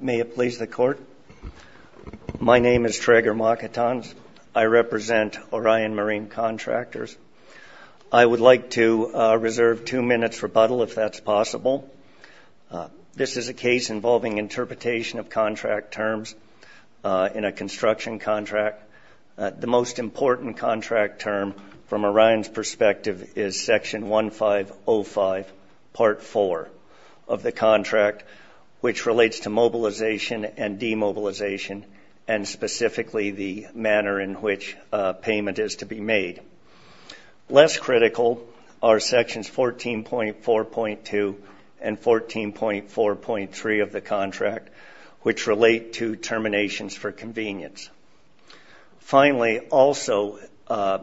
May it please the Court. My name is Traeger Makatanz. I represent Orion Marine Contractors. I would like to reserve two minutes' rebuttal, if that's possible. This is a case involving interpretation of contract terms in a construction contract. The most important contract term from Orion's perspective is Section 1505, Part 4 of the contract, which relates to mobilization and demobilization and specifically the manner in which payment is to be made. Less critical are Sections 14.4.2 and 14.4.3 of the contract, which relate to terminations for convenience. Finally, also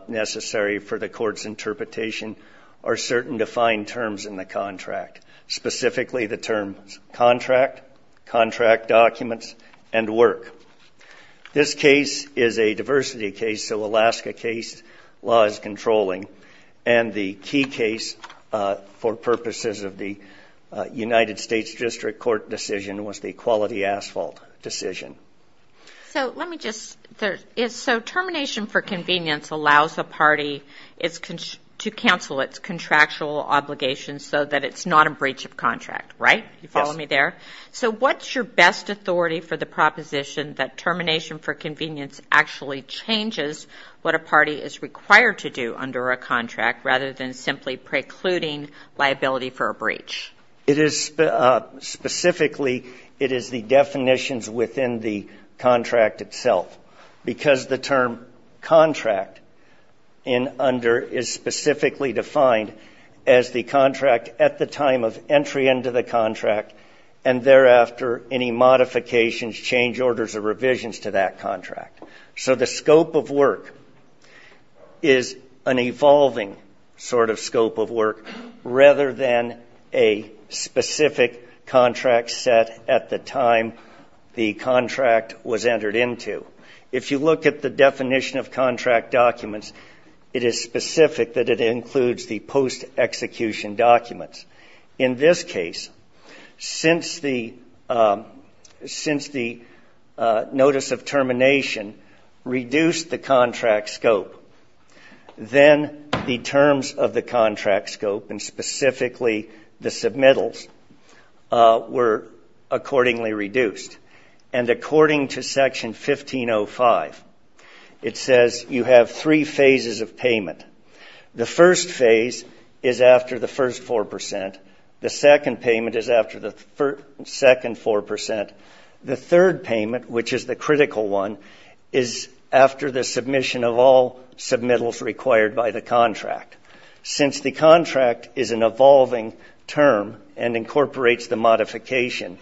necessary for the Court's interpretation are certain defined terms in the contract, specifically the terms contract, contract documents, and work. This case is a diversity case, so Alaska case law is controlling, and the key case for purposes of the United States District Court decision was the quality asphalt decision. So let me just, so termination for convenience allows a party to cancel its contractual obligations so that it's not a breach of contract, right? You follow me there? Yes. So what's your best authority for the proposition that termination for convenience actually changes what a party is required to do under a contract rather than simply precluding liability for a breach? It is specifically, it is the definitions within the contract itself, because the term contract in under is specifically defined as the contract at the time of entry into the contract and thereafter any modifications, change orders, or revisions to that contract. So the scope of work is an evolving sort of scope of work rather than a specific contract set at the time the contract was entered into. If you look at the definition of contract documents, it is specific that it includes the post-execution documents. In this case, since the notice of termination reduced the contract scope, then the terms of the contract scope and specifically the submittals were accordingly reduced. And according to Section 1505, it says you have three phases of payment. The first phase is after the first 4 percent. The second payment is after the second 4 percent. The third payment, which is the critical one, is after the submission of all submittals required by the contract. Since the contract is an evolving term and incorporates the modification,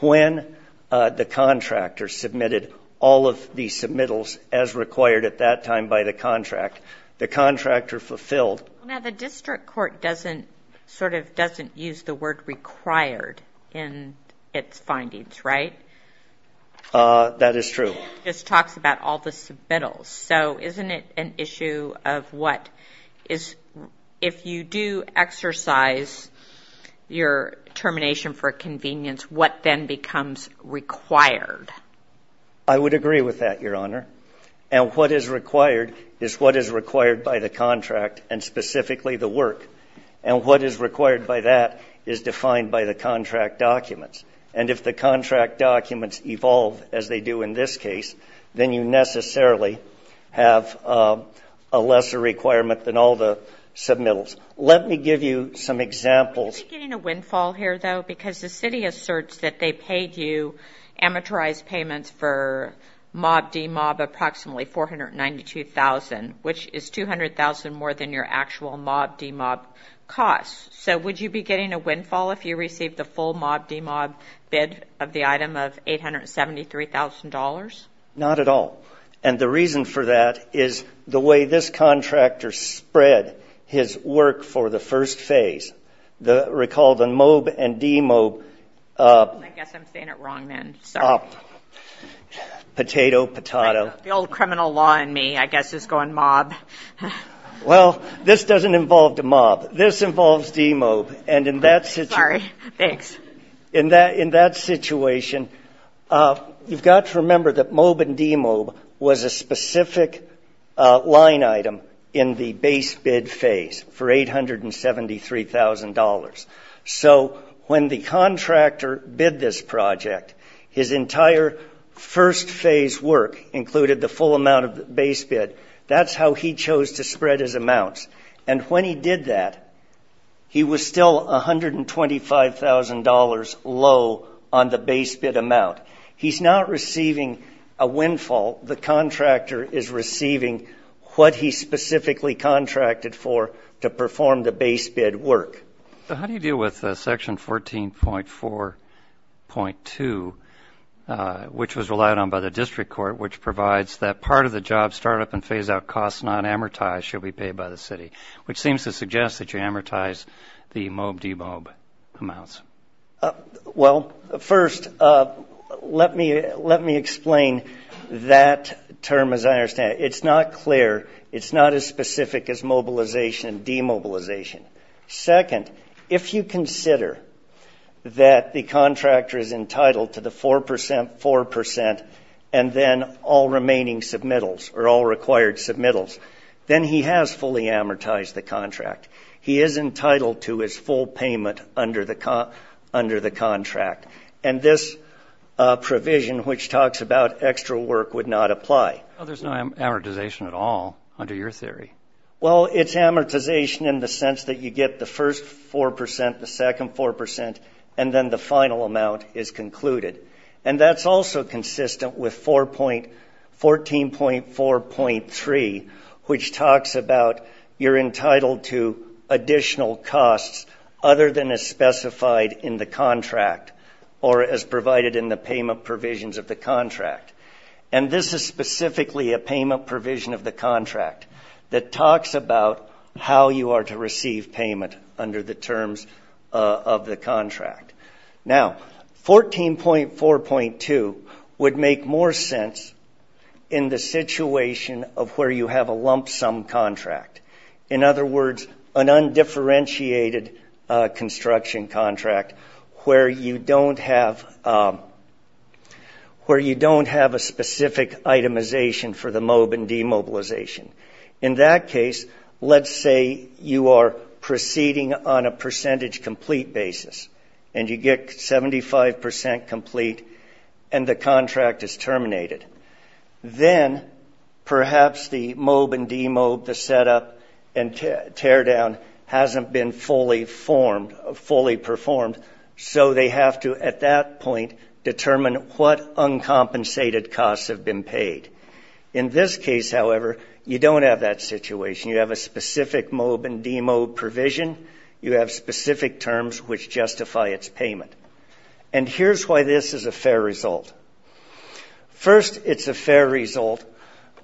when the contractor submitted all of the submittals as required at that time by the contract, the contract are fulfilled. Now, the district court doesn't sort of doesn't use the word required in its findings, right? That is true. It just talks about all the submittals. So isn't it an issue of what is if you do exercise your termination for convenience, what then becomes required? I would agree with that, Your Honor. And what is required is what is required by the contract and specifically the work. And what is required by that is defined by the contract documents. And if the contract documents evolve as they do in this case, then you necessarily have a lesser requirement than all the submittals. Let me give you some examples. Are we getting a windfall here, though? Because the city asserts that they paid you amortized payments for Mob-D-Mob approximately $492,000, which is $200,000 more than your actual Mob-D-Mob costs. So would you be getting a windfall if you received the full Mob-D-Mob bid of the item of $873,000? Not at all. And the reason for that is the way this contractor spread his work for the first phase. Recall the Mob and D-Mob. I guess I'm saying it wrong then. Sorry. Potato, potato. The old criminal law in me, I guess, is going mob. Well, this doesn't involve the mob. This involves D-Mob. Sorry. Thanks. In that situation, you've got to remember that Mob and D-Mob was a specific line item in the base bid phase for $873,000. So when the contractor bid this project, his entire first phase work included the full amount of the base bid. That's how he chose to spread his amounts. And when he did that, he was still $125,000 low on the base bid amount. He's not receiving a windfall. The contractor is receiving what he specifically contracted for to perform the base bid work. How do you deal with Section 14.4.2, which was relied on by the district court, which provides that part of the job startup and phase-out costs not amortized should be paid by the city, which seems to suggest that you amortize the Mob-D-Mob amounts? Well, first, let me explain that term as I understand it. It's not clear. It's not as specific as mobilization and demobilization. Second, if you consider that the contractor is entitled to the 4%, 4%, and then all remaining submittals or all required submittals, then he has fully amortized the contract. He is entitled to his full payment under the contract. And this provision, which talks about extra work, would not apply. Well, there's no amortization at all under your theory. Well, it's amortization in the sense that you get the first 4%, the second 4%, and then the final amount is concluded. And that's also consistent with 14.4.3, which talks about you're entitled to additional costs other than as specified in the contract or as provided in the payment provisions of the contract. And this is specifically a payment provision of the contract that talks about how you are to receive payment under the terms of the contract. Now, 14.4.2 would make more sense in the situation of where you have a lump sum contract. In other words, an undifferentiated construction contract where you don't have a specific itemization for the MOAB and demobilization. In that case, let's say you are proceeding on a percentage complete basis and you get 75% complete and the contract is terminated. Then perhaps the MOAB and demobilization setup and teardown hasn't been fully performed, so they have to, at that point, determine what uncompensated costs have been paid. In this case, however, you don't have that situation. You have a specific MOAB and demobilization provision. You have specific terms which justify its payment. And here's why this is a fair result. First, it's a fair result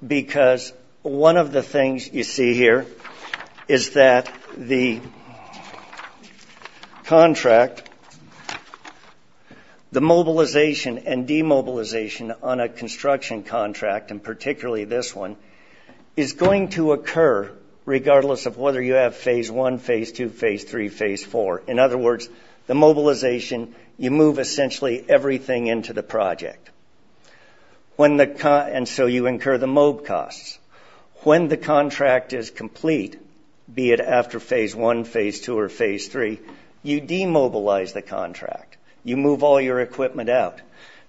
because one of the things you see here is that the contract, the mobilization and demobilization on a construction contract, and particularly this one, is going to occur regardless of whether you have Phase 1, Phase 2, Phase 3, Phase 4. In other words, the mobilization, you move essentially everything into the project, and so you incur the MOAB costs. When the contract is complete, be it after Phase 1, Phase 2, or Phase 3, you demobilize the contract. You move all your equipment out.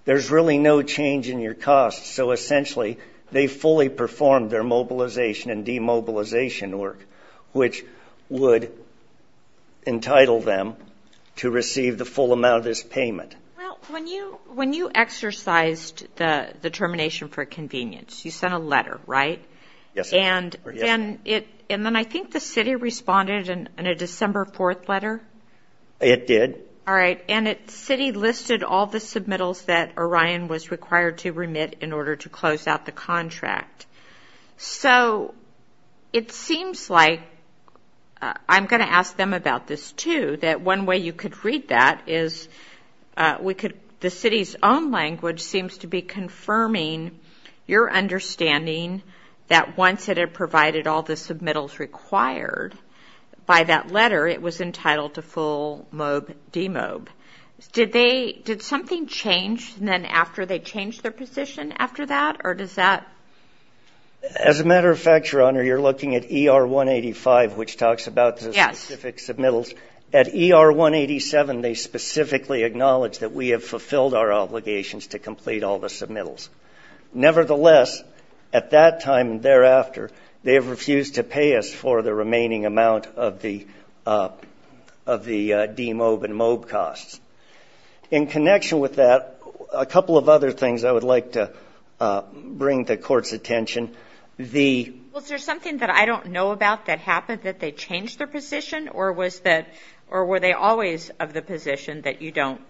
There's really no change in your costs, so essentially they fully perform their mobilization and demobilization work, which would entitle them to receive the full amount of this payment. Well, when you exercised the determination for convenience, you sent a letter, right? Yes, ma'am. And then I think the city responded in a December 4th letter. It did. All right, and the city listed all the submittals that Orion was required to remit in order to close out the contract. So it seems like I'm going to ask them about this too, that one way you could read that is the city's own language seems to be confirming your understanding that once it had provided all the submittals required by that letter, it was entitled to full MOAB demob. Did something change then after they changed their position after that, or does that? As a matter of fact, Your Honor, you're looking at ER 185, which talks about the specific submittals. At ER 187, they specifically acknowledge that we have fulfilled our obligations to complete all the submittals. Nevertheless, at that time thereafter, they have refused to pay us for the remaining amount of the demob and MOAB costs. In connection with that, a couple of other things I would like to bring to court's attention. Was there something that I don't know about that happened, that they changed their position, or were they always of the position that you don't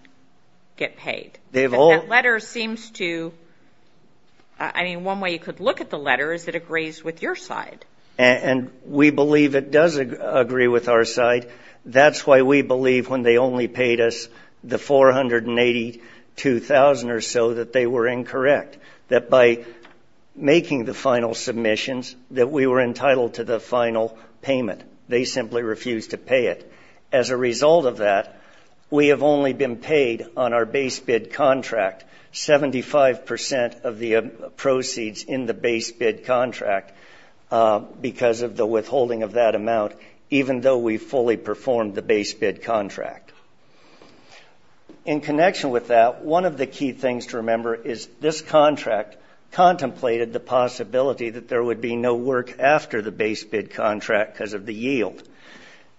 get paid? That letter seems to, I mean, one way you could look at the letter is it agrees with your side. And we believe it does agree with our side. That's why we believe when they only paid us the $482,000 or so that they were incorrect, that by making the final submissions that we were entitled to the final payment. They simply refused to pay it. As a result of that, we have only been paid on our base bid contract 75% of the proceeds in the base bid contract because of the withholding of that amount, even though we fully performed the base bid contract. In connection with that, one of the key things to remember is this contract contemplated the possibility that there would be no work after the base bid contract because of the yield.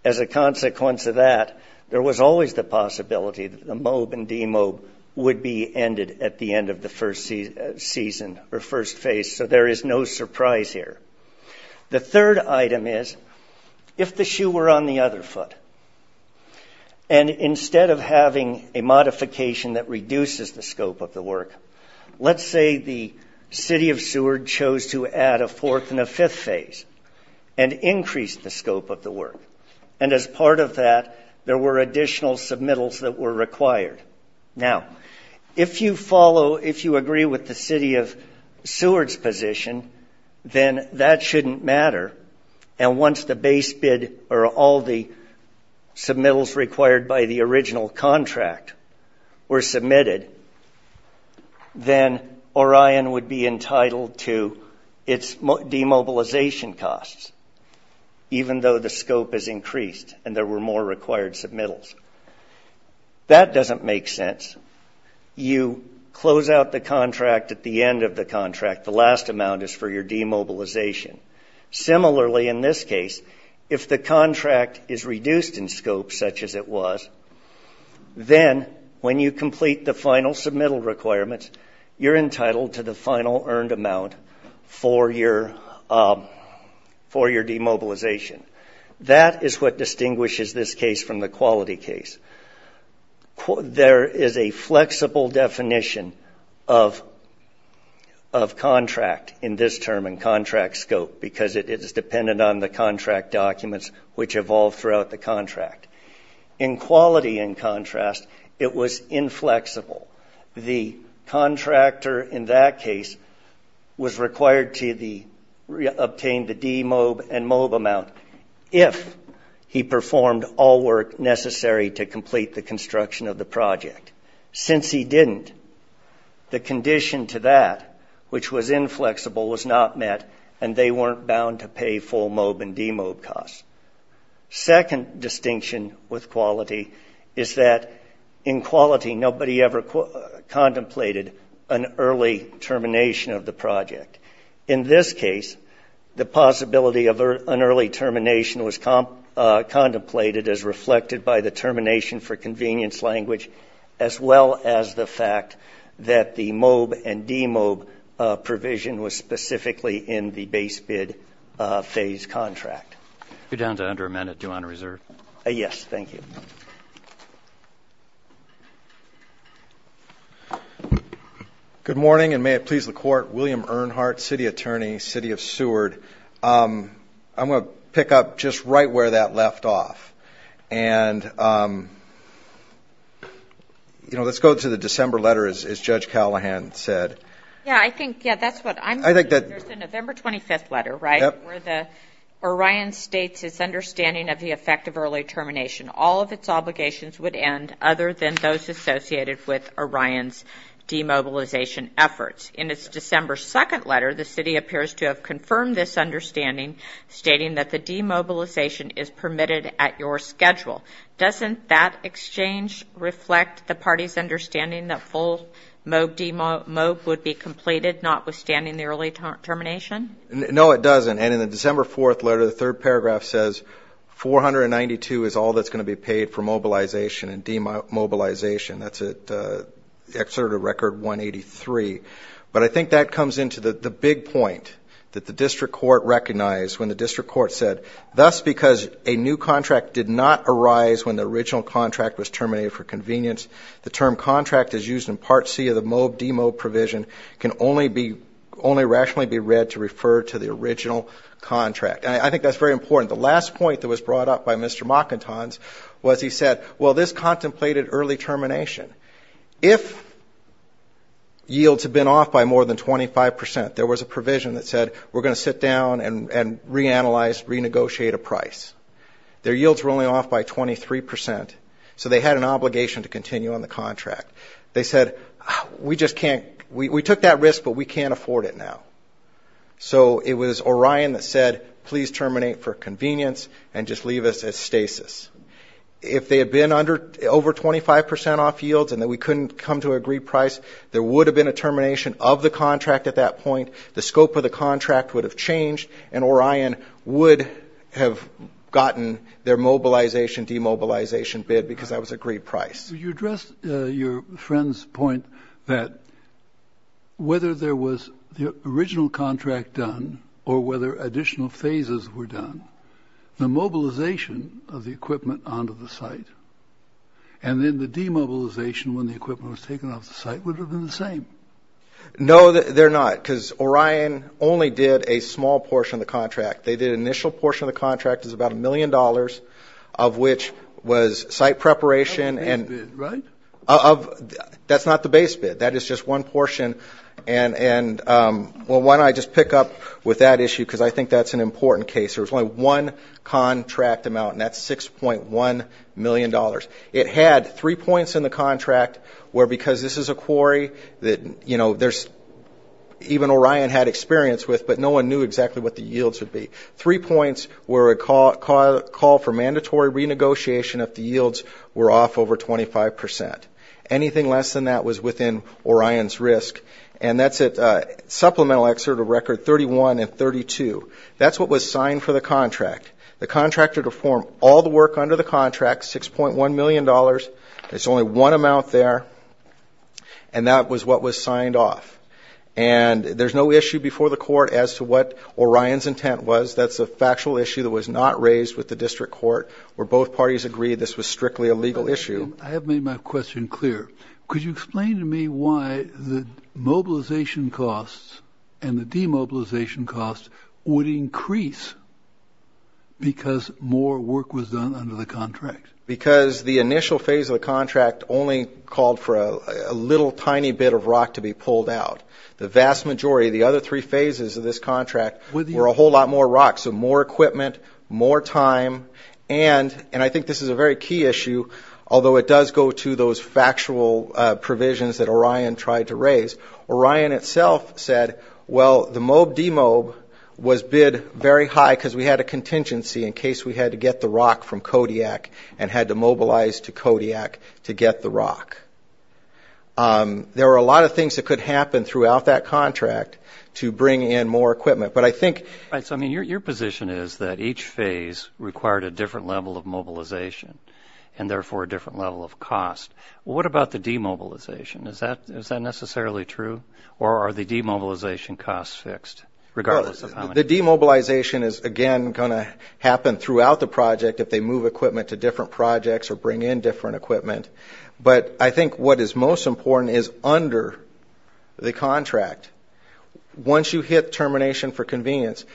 As a consequence of that, there was always the possibility that the MOAB and DMOAB would be ended at the end of the first season or first phase, so there is no surprise here. The third item is if the shoe were on the other foot, and instead of having a modification that reduces the scope of the work, let's say the City of Seward chose to add a fourth and a fifth phase and increase the scope of the work. And as part of that, there were additional submittals that were required. Now, if you follow, if you agree with the City of Seward's position, then that shouldn't matter. And once the base bid or all the submittals required by the original contract were submitted, then Orion would be entitled to its demobilization costs, even though the scope has increased and there were more required submittals. That doesn't make sense. You close out the contract at the end of the contract. The last amount is for your demobilization. Similarly, in this case, if the contract is reduced in scope, such as it was, then when you complete the final submittal requirements, you're entitled to the final earned amount for your demobilization. That is what distinguishes this case from the quality case. There is a flexible definition of contract in this term and contract scope because it is dependent on the contract documents which evolve throughout the contract. In quality, in contrast, it was inflexible. The contractor in that case was required to obtain the demob and mob amount if he performed all work necessary to complete the construction of the project. Since he didn't, the condition to that, which was inflexible, was not met, and they weren't bound to pay full mob and demob costs. Second distinction with quality is that in quality, nobody ever contemplated an early termination of the project. In this case, the possibility of an early termination was contemplated as reflected by the termination for convenience language, as well as the fact that the mob and demob provision was specifically in the base bid phase contract. You're down to under a minute. Do you want to reserve? Yes, thank you. Thank you. Good morning, and may it please the court. William Earnhardt, city attorney, city of Seward. I'm going to pick up just right where that left off. And, you know, let's go to the December letter, as Judge Callahan said. Yeah, I think, yeah, that's what I'm thinking. There's the November 25th letter, right? Yep. In that letter, the Orion states its understanding of the effect of early termination. All of its obligations would end other than those associated with Orion's demobilization efforts. In its December 2nd letter, the city appears to have confirmed this understanding, stating that the demobilization is permitted at your schedule. Doesn't that exchange reflect the party's understanding that full mob would be completed, notwithstanding the early termination? No, it doesn't. And in the December 4th letter, the third paragraph says, 492 is all that's going to be paid for mobilization and demobilization. That's an excerpt of Record 183. But I think that comes into the big point that the district court recognized when the district court said, thus because a new contract did not arise when the original contract was terminated for convenience, the term contract is used in Part C of the Mob-Demob provision can only rationally be read to refer to the original contract. And I think that's very important. The last point that was brought up by Mr. Mockentons was he said, well, this contemplated early termination. If yields had been off by more than 25 percent, there was a provision that said we're going to sit down and reanalyze, renegotiate a price. Their yields were only off by 23 percent. So they had an obligation to continue on the contract. They said, we just can't. We took that risk, but we can't afford it now. So it was Orion that said, please terminate for convenience and just leave us at stasis. If they had been over 25 percent off yields and that we couldn't come to an agreed price, there would have been a termination of the contract at that point. The scope of the contract would have changed, and Orion would have gotten their mobilization demobilization bid because that was agreed price. You addressed your friend's point that whether there was the original contract done or whether additional phases were done, the mobilization of the equipment onto the site and then the demobilization when the equipment was taken off the site would have been the same. No, they're not, because Orion only did a small portion of the contract. They did an initial portion of the contract. It was about a million dollars, of which was site preparation. That's not the base bid, right? That's not the base bid. That is just one portion. And, well, why don't I just pick up with that issue because I think that's an important case. There was only one contract amount, and that's $6.1 million. It had three points in the contract where, because this is a quarry that, you know, even Orion had experience with, but no one knew exactly what the yields would be. Three points were a call for mandatory renegotiation if the yields were off over 25 percent. Anything less than that was within Orion's risk, and that's at supplemental excerpt of record 31 and 32. That's what was signed for the contract. The contractor to form all the work under the contract, $6.1 million. There's only one amount there, and that was what was signed off. And there's no issue before the court as to what Orion's intent was. That's a factual issue that was not raised with the district court where both parties agreed this was strictly a legal issue. I have made my question clear. Could you explain to me why the mobilization costs and the demobilization costs would increase because more work was done under the contract? Because the initial phase of the contract only called for a little tiny bit of rock to be pulled out. The vast majority of the other three phases of this contract were a whole lot more rock, so more equipment, more time. And I think this is a very key issue, although it does go to those factual provisions that Orion tried to raise. Orion itself said, well, the MOAB demob was bid very high because we had a contingency in case we had to get the rock from Kodiak and had to mobilize to Kodiak to get the rock. There were a lot of things that could happen throughout that contract to bring in more equipment. Your position is that each phase required a different level of mobilization and, therefore, a different level of cost. What about the demobilization? Is that necessarily true, or are the demobilization costs fixed regardless of how many? The demobilization is, again, going to happen throughout the project if they move equipment to different projects or bring in different equipment. But I think what is most important is under the contract. Once you hit termination for convenience,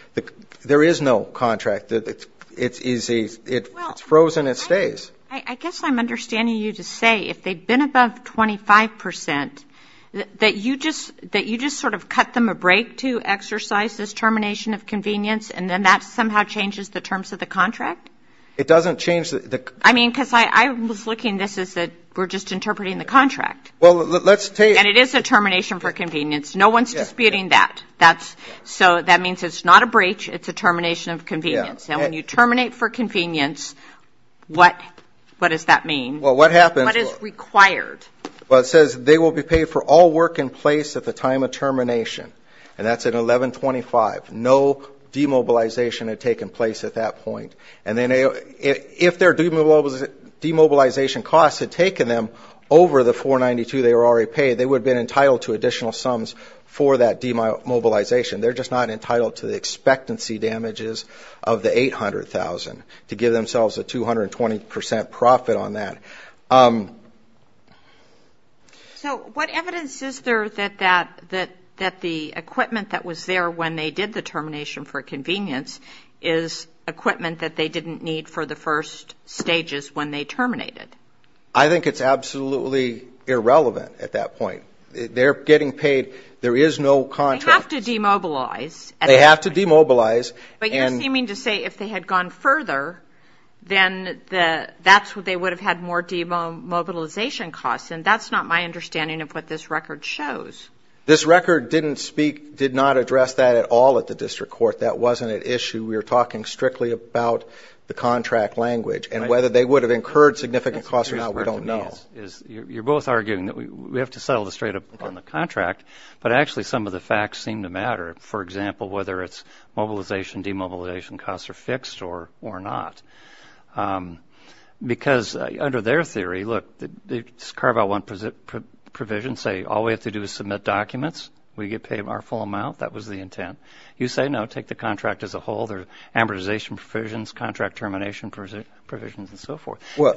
there is no contract. It's easy. It's frozen. It stays. I guess I'm understanding you to say if they've been above 25 percent, that you just sort of cut them a break to exercise this termination of convenience, and then that somehow changes the terms of the contract? It doesn't change the – I mean, because I was looking at this as we're just interpreting the contract. Well, let's take – And it is a termination for convenience. No one is disputing that. So that means it's not a breach. It's a termination of convenience. Now, when you terminate for convenience, what does that mean? Well, what happens? What is required? Well, it says they will be paid for all work in place at the time of termination, and that's at 1125. No demobilization had taken place at that point. And then if their demobilization costs had taken them over the 492 they were already paid, they would have been entitled to additional sums for that demobilization. They're just not entitled to the expectancy damages of the 800,000 to give themselves a 220 percent profit on that. So what evidence is there that the equipment that was there when they did the termination for convenience is equipment that they didn't need for the first stages when they terminated? I think it's absolutely irrelevant at that point. They're getting paid. There is no contract. They have to demobilize. They have to demobilize. But you're seeming to say if they had gone further, then that's what they would have had more demobilization costs, and that's not my understanding of what this record shows. This record didn't speak – did not address that at all at the district court. That wasn't at issue. We were talking strictly about the contract language, and whether they would have incurred significant costs or not we don't know. You're both arguing that we have to settle this straight up on the contract, but actually some of the facts seem to matter. For example, whether it's mobilization, demobilization costs are fixed or not. Because under their theory, look, carve out one provision, say all we have to do is submit documents, we get paid our full amount, that was the intent. You say, no, take the contract as a whole. There are amortization provisions, contract termination provisions, and so forth. All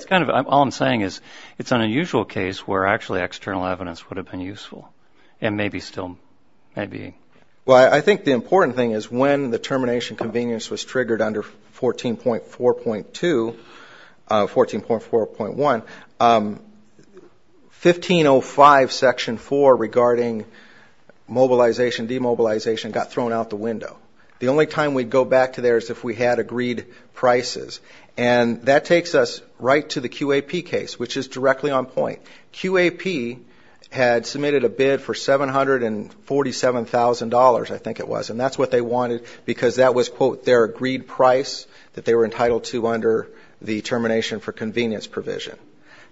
I'm saying is it's an unusual case where actually external evidence would have been useful, and maybe still may be. Well, I think the important thing is when the termination convenience was triggered under 14.4.2, 14.4.1, 15.05 Section 4 regarding mobilization, demobilization got thrown out the window. The only time we'd go back to there is if we had agreed prices. And that takes us right to the QAP case, which is directly on point. QAP had submitted a bid for $747,000, I think it was, and that's what they wanted because that was, quote, their agreed price that they were entitled to under the termination for convenience provision.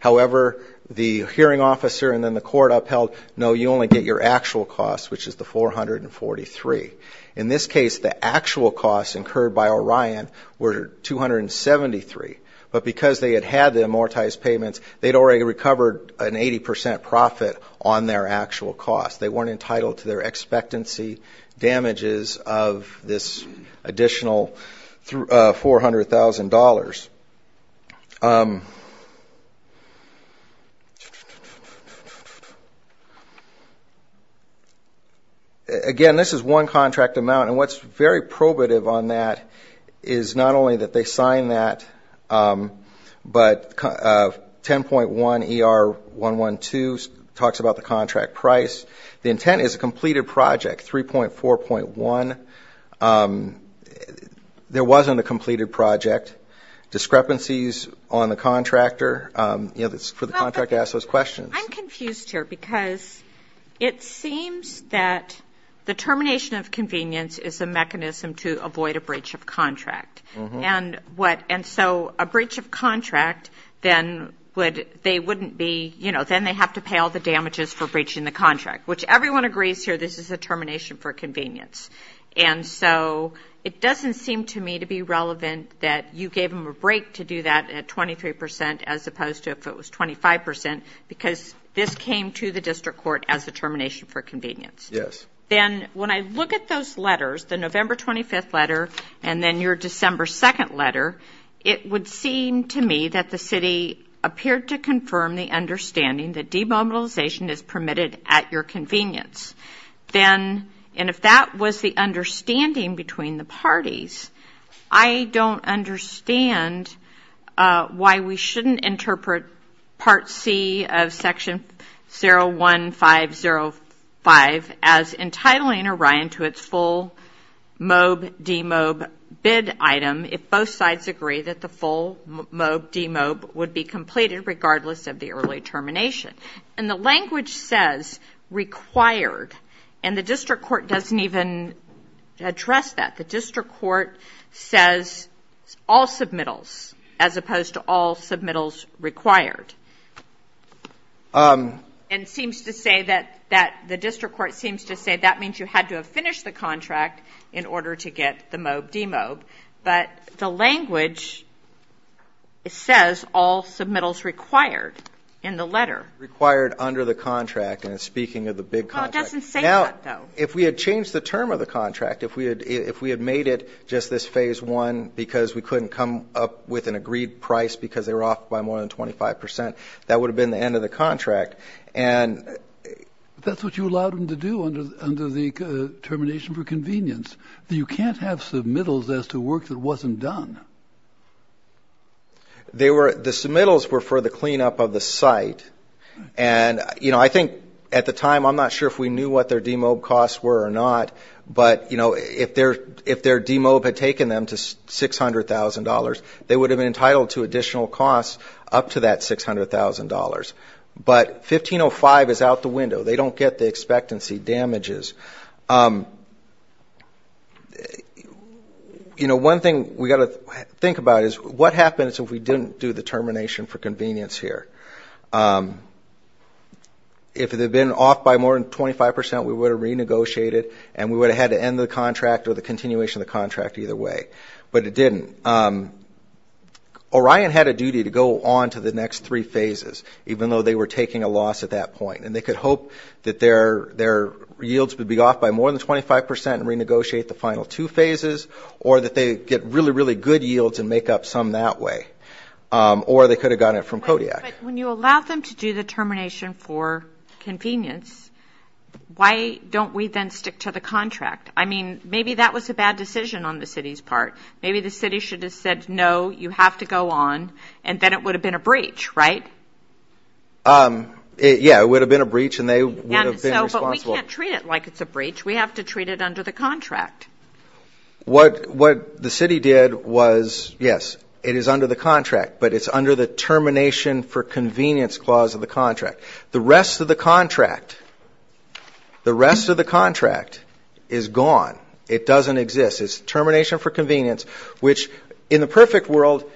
However, the hearing officer and then the court upheld, no, you only get your actual cost, which is the 443. In this case, the actual costs incurred by Orion were 273. But because they had had the amortized payments, they'd already recovered an 80% profit on their actual cost. They weren't entitled to their expectancy damages of this additional $400,000. Again, this is one contract amount, and what's very probative on that is not only that they sign that, but 10.1 ER 112 talks about the contract price. The intent is a completed project, 3.4.1. There wasn't a completed project. Discrepancies on the contractor, you know, for the contract to ask those questions. I'm confused here because it seems that the termination of convenience is a mechanism to avoid a breach of contract. And so a breach of contract, then they wouldn't be, you know, then they have to pay all the damages for breaching the contract, which everyone agrees here this is a termination for convenience. And so it doesn't seem to me to be relevant that you gave them a break to do that at 23% as opposed to if it was 25% because this came to the district court as a termination for convenience. Yes. Then when I look at those letters, the November 25th letter and then your December 2nd letter, it would seem to me that the city appeared to confirm the understanding that demobilization is permitted at your convenience. Then, and if that was the understanding between the parties, I don't understand why we shouldn't interpret Part C of Section 01505 as entitling Orion to its full MOAB-DMOAB bid item if both sides agree that the full MOAB-DMOAB would be completed regardless of the early termination. And the language says required, and the district court doesn't even address that. The district court says all submittals as opposed to all submittals required. And it seems to say that the district court seems to say that means you had to have finished the contract in order to get the MOAB-DMOAB. But the language says all submittals required in the letter. Required under the contract, and speaking of the big contract. It doesn't say that, though. If we had changed the term of the contract, if we had made it just this Phase 1 because we couldn't come up with an agreed price because they were off by more than 25 percent, that would have been the end of the contract. And that's what you allowed them to do under the termination for convenience. You can't have submittals as to work that wasn't done. The submittals were for the cleanup of the site. And I think at the time, I'm not sure if we knew what their DMOAB costs were or not, but if their DMOAB had taken them to $600,000, they would have been entitled to additional costs up to that $600,000. But 1505 is out the window. They don't get the expectancy damages. You know, one thing we've got to think about is what happens if we didn't do the termination for convenience here? If they'd been off by more than 25 percent, we would have renegotiated, and we would have had to end the contract or the continuation of the contract either way. But it didn't. Orion had a duty to go on to the next three phases, even though they were taking a loss at that point. And they could hope that their yields would be off by more than 25 percent and renegotiate the final two phases or that they get really, really good yields and make up some that way. Or they could have gotten it from Kodiak. But when you allow them to do the termination for convenience, why don't we then stick to the contract? I mean, maybe that was a bad decision on the city's part. Maybe the city should have said, no, you have to go on, and then it would have been a breach, right? Yeah, it would have been a breach, and they would have been responsible. But we can't treat it like it's a breach. We have to treat it under the contract. What the city did was, yes, it is under the contract, but it's under the termination for convenience clause of the contract. The rest of the contract is gone. It doesn't exist. It's termination for convenience, which in the perfect world,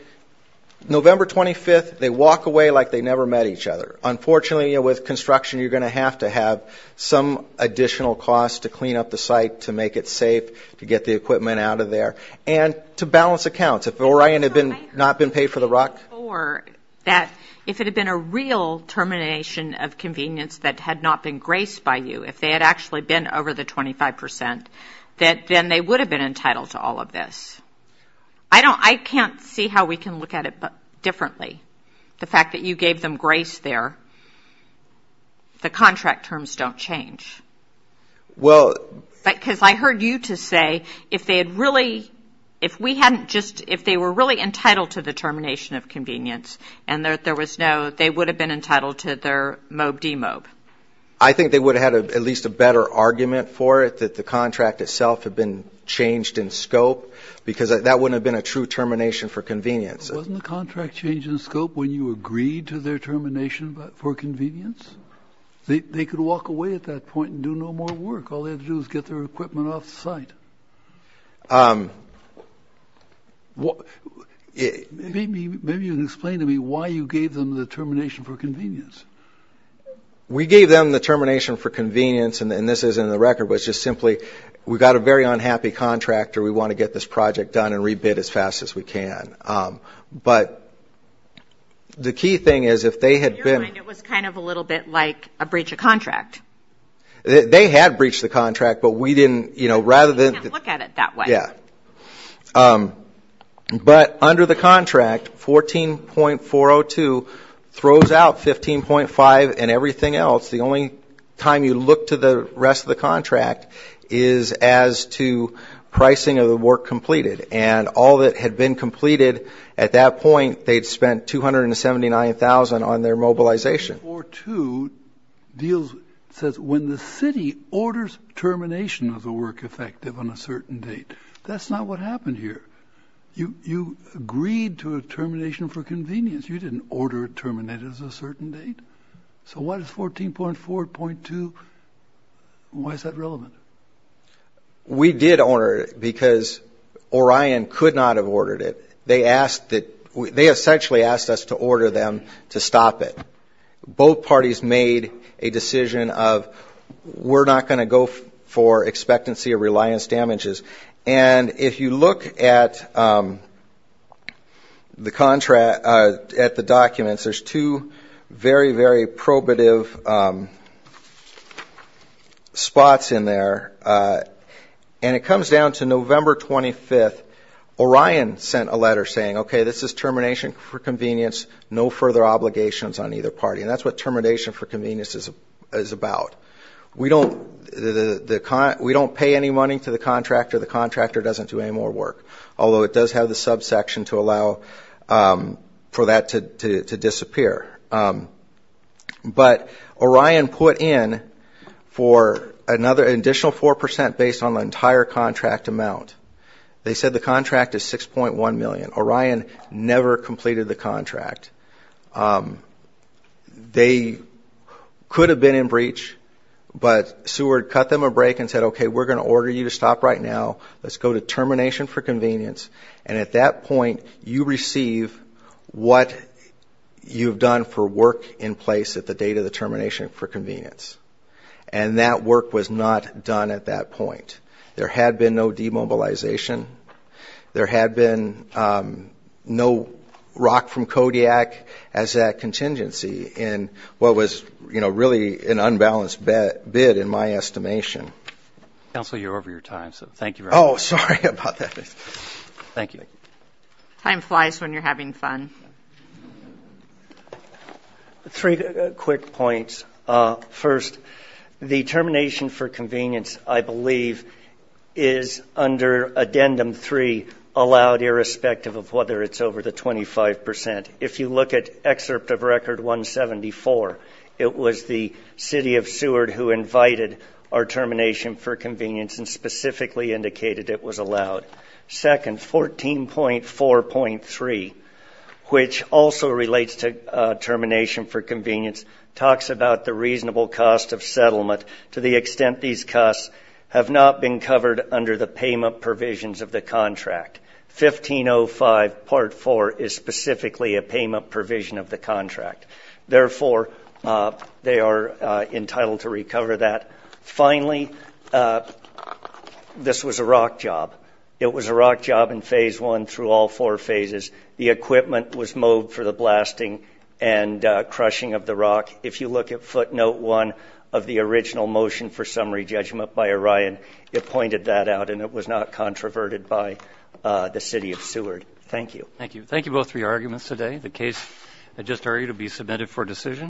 November 25th, they walk away like they never met each other. Unfortunately, with construction, you're going to have to have some additional cost to clean up the site, to make it safe, to get the equipment out of there, and to balance accounts. If Orion had not been paid for the rock. If it had been a real termination of convenience that had not been graced by you, if they had actually been over the 25 percent, then they would have been entitled to all of this. I can't see how we can look at it differently. The fact that you gave them grace there, the contract terms don't change. Because I heard you to say, if they had really, if we hadn't just, if they were really entitled to the termination of convenience, and there was no, they would have been entitled to their MOB-DMOB. I think they would have had at least a better argument for it, that the contract itself had been changed in scope, because that wouldn't have been a true termination for convenience. Wasn't the contract changed in scope when you agreed to their termination for convenience? They could walk away at that point and do no more work. All they had to do was get their equipment off the site. Maybe you can explain to me why you gave them the termination for convenience. We gave them the termination for convenience, and this isn't in the record, but it's just simply, we've got a very unhappy contractor, we want to get this project done and re-bid as fast as we can. But the key thing is, if they had been... In your mind, it was kind of a little bit like a breach of contract. They had breached the contract, but we didn't, you know, rather than... You can't look at it that way. Yeah. But under the contract, 14.402 throws out 15.5 and everything else. The only time you look to the rest of the contract is as to pricing of the work completed. And all that had been completed at that point, they'd spent $279,000 on their mobilization. 14.402 deals, says when the city orders termination of the work effective on a certain date. That's not what happened here. You agreed to a termination for convenience. You didn't order it terminated at a certain date. So why does 14.402, why is that relevant? We did order it because Orion could not have ordered it. They essentially asked us to order them to stop it. Both parties made a decision of we're not going to go for expectancy or reliance damages. And if you look at the contract, at the documents, there's two very, very probative spots in there. And it comes down to November 25th. Orion sent a letter saying, okay, this is termination for convenience, no further obligations on either party. And that's what termination for convenience is about. We don't pay any money to the contractor. The contractor doesn't do any more work. Although it does have the subsection to allow for that to disappear. But Orion put in for an additional 4% based on the entire contract amount. They said the contract is 6.1 million. Orion never completed the contract. They could have been in breach, but Seward cut them a break and said, okay, we're going to order you to stop right now. Let's go to termination for convenience. And at that point, you receive what you've done for work in place at the date of the termination for convenience. And that work was not done at that point. There had been no demobilization. There had been no rock from Kodiak as that contingency in what was, you know, really an unbalanced bid in my estimation. Counsel, you're over your time, so thank you very much. Oh, sorry about that. Thank you. Time flies when you're having fun. Three quick points. First, the termination for convenience, I believe, is under addendum three, allowed irrespective of whether it's over the 25%. If you look at excerpt of record 174, it was the city of Seward who invited our termination for convenience and specifically indicated it was allowed. Second, 14.4.3, which also relates to termination for convenience, talks about the reasonable cost of settlement to the extent these costs have not been covered under the payment provisions of the contract. 1505.4 is specifically a payment provision of the contract. Therefore, they are entitled to recover that. Finally, this was a rock job. It was a rock job in phase one through all four phases. The equipment was mowed for the blasting and crushing of the rock. If you look at footnote one of the original motion for summary judgment by Orion, it pointed that out and it was not controverted by the city of Seward. Thank you. Thank you. Thank you, both, for your arguments today. The case I just heard will be submitted for decision.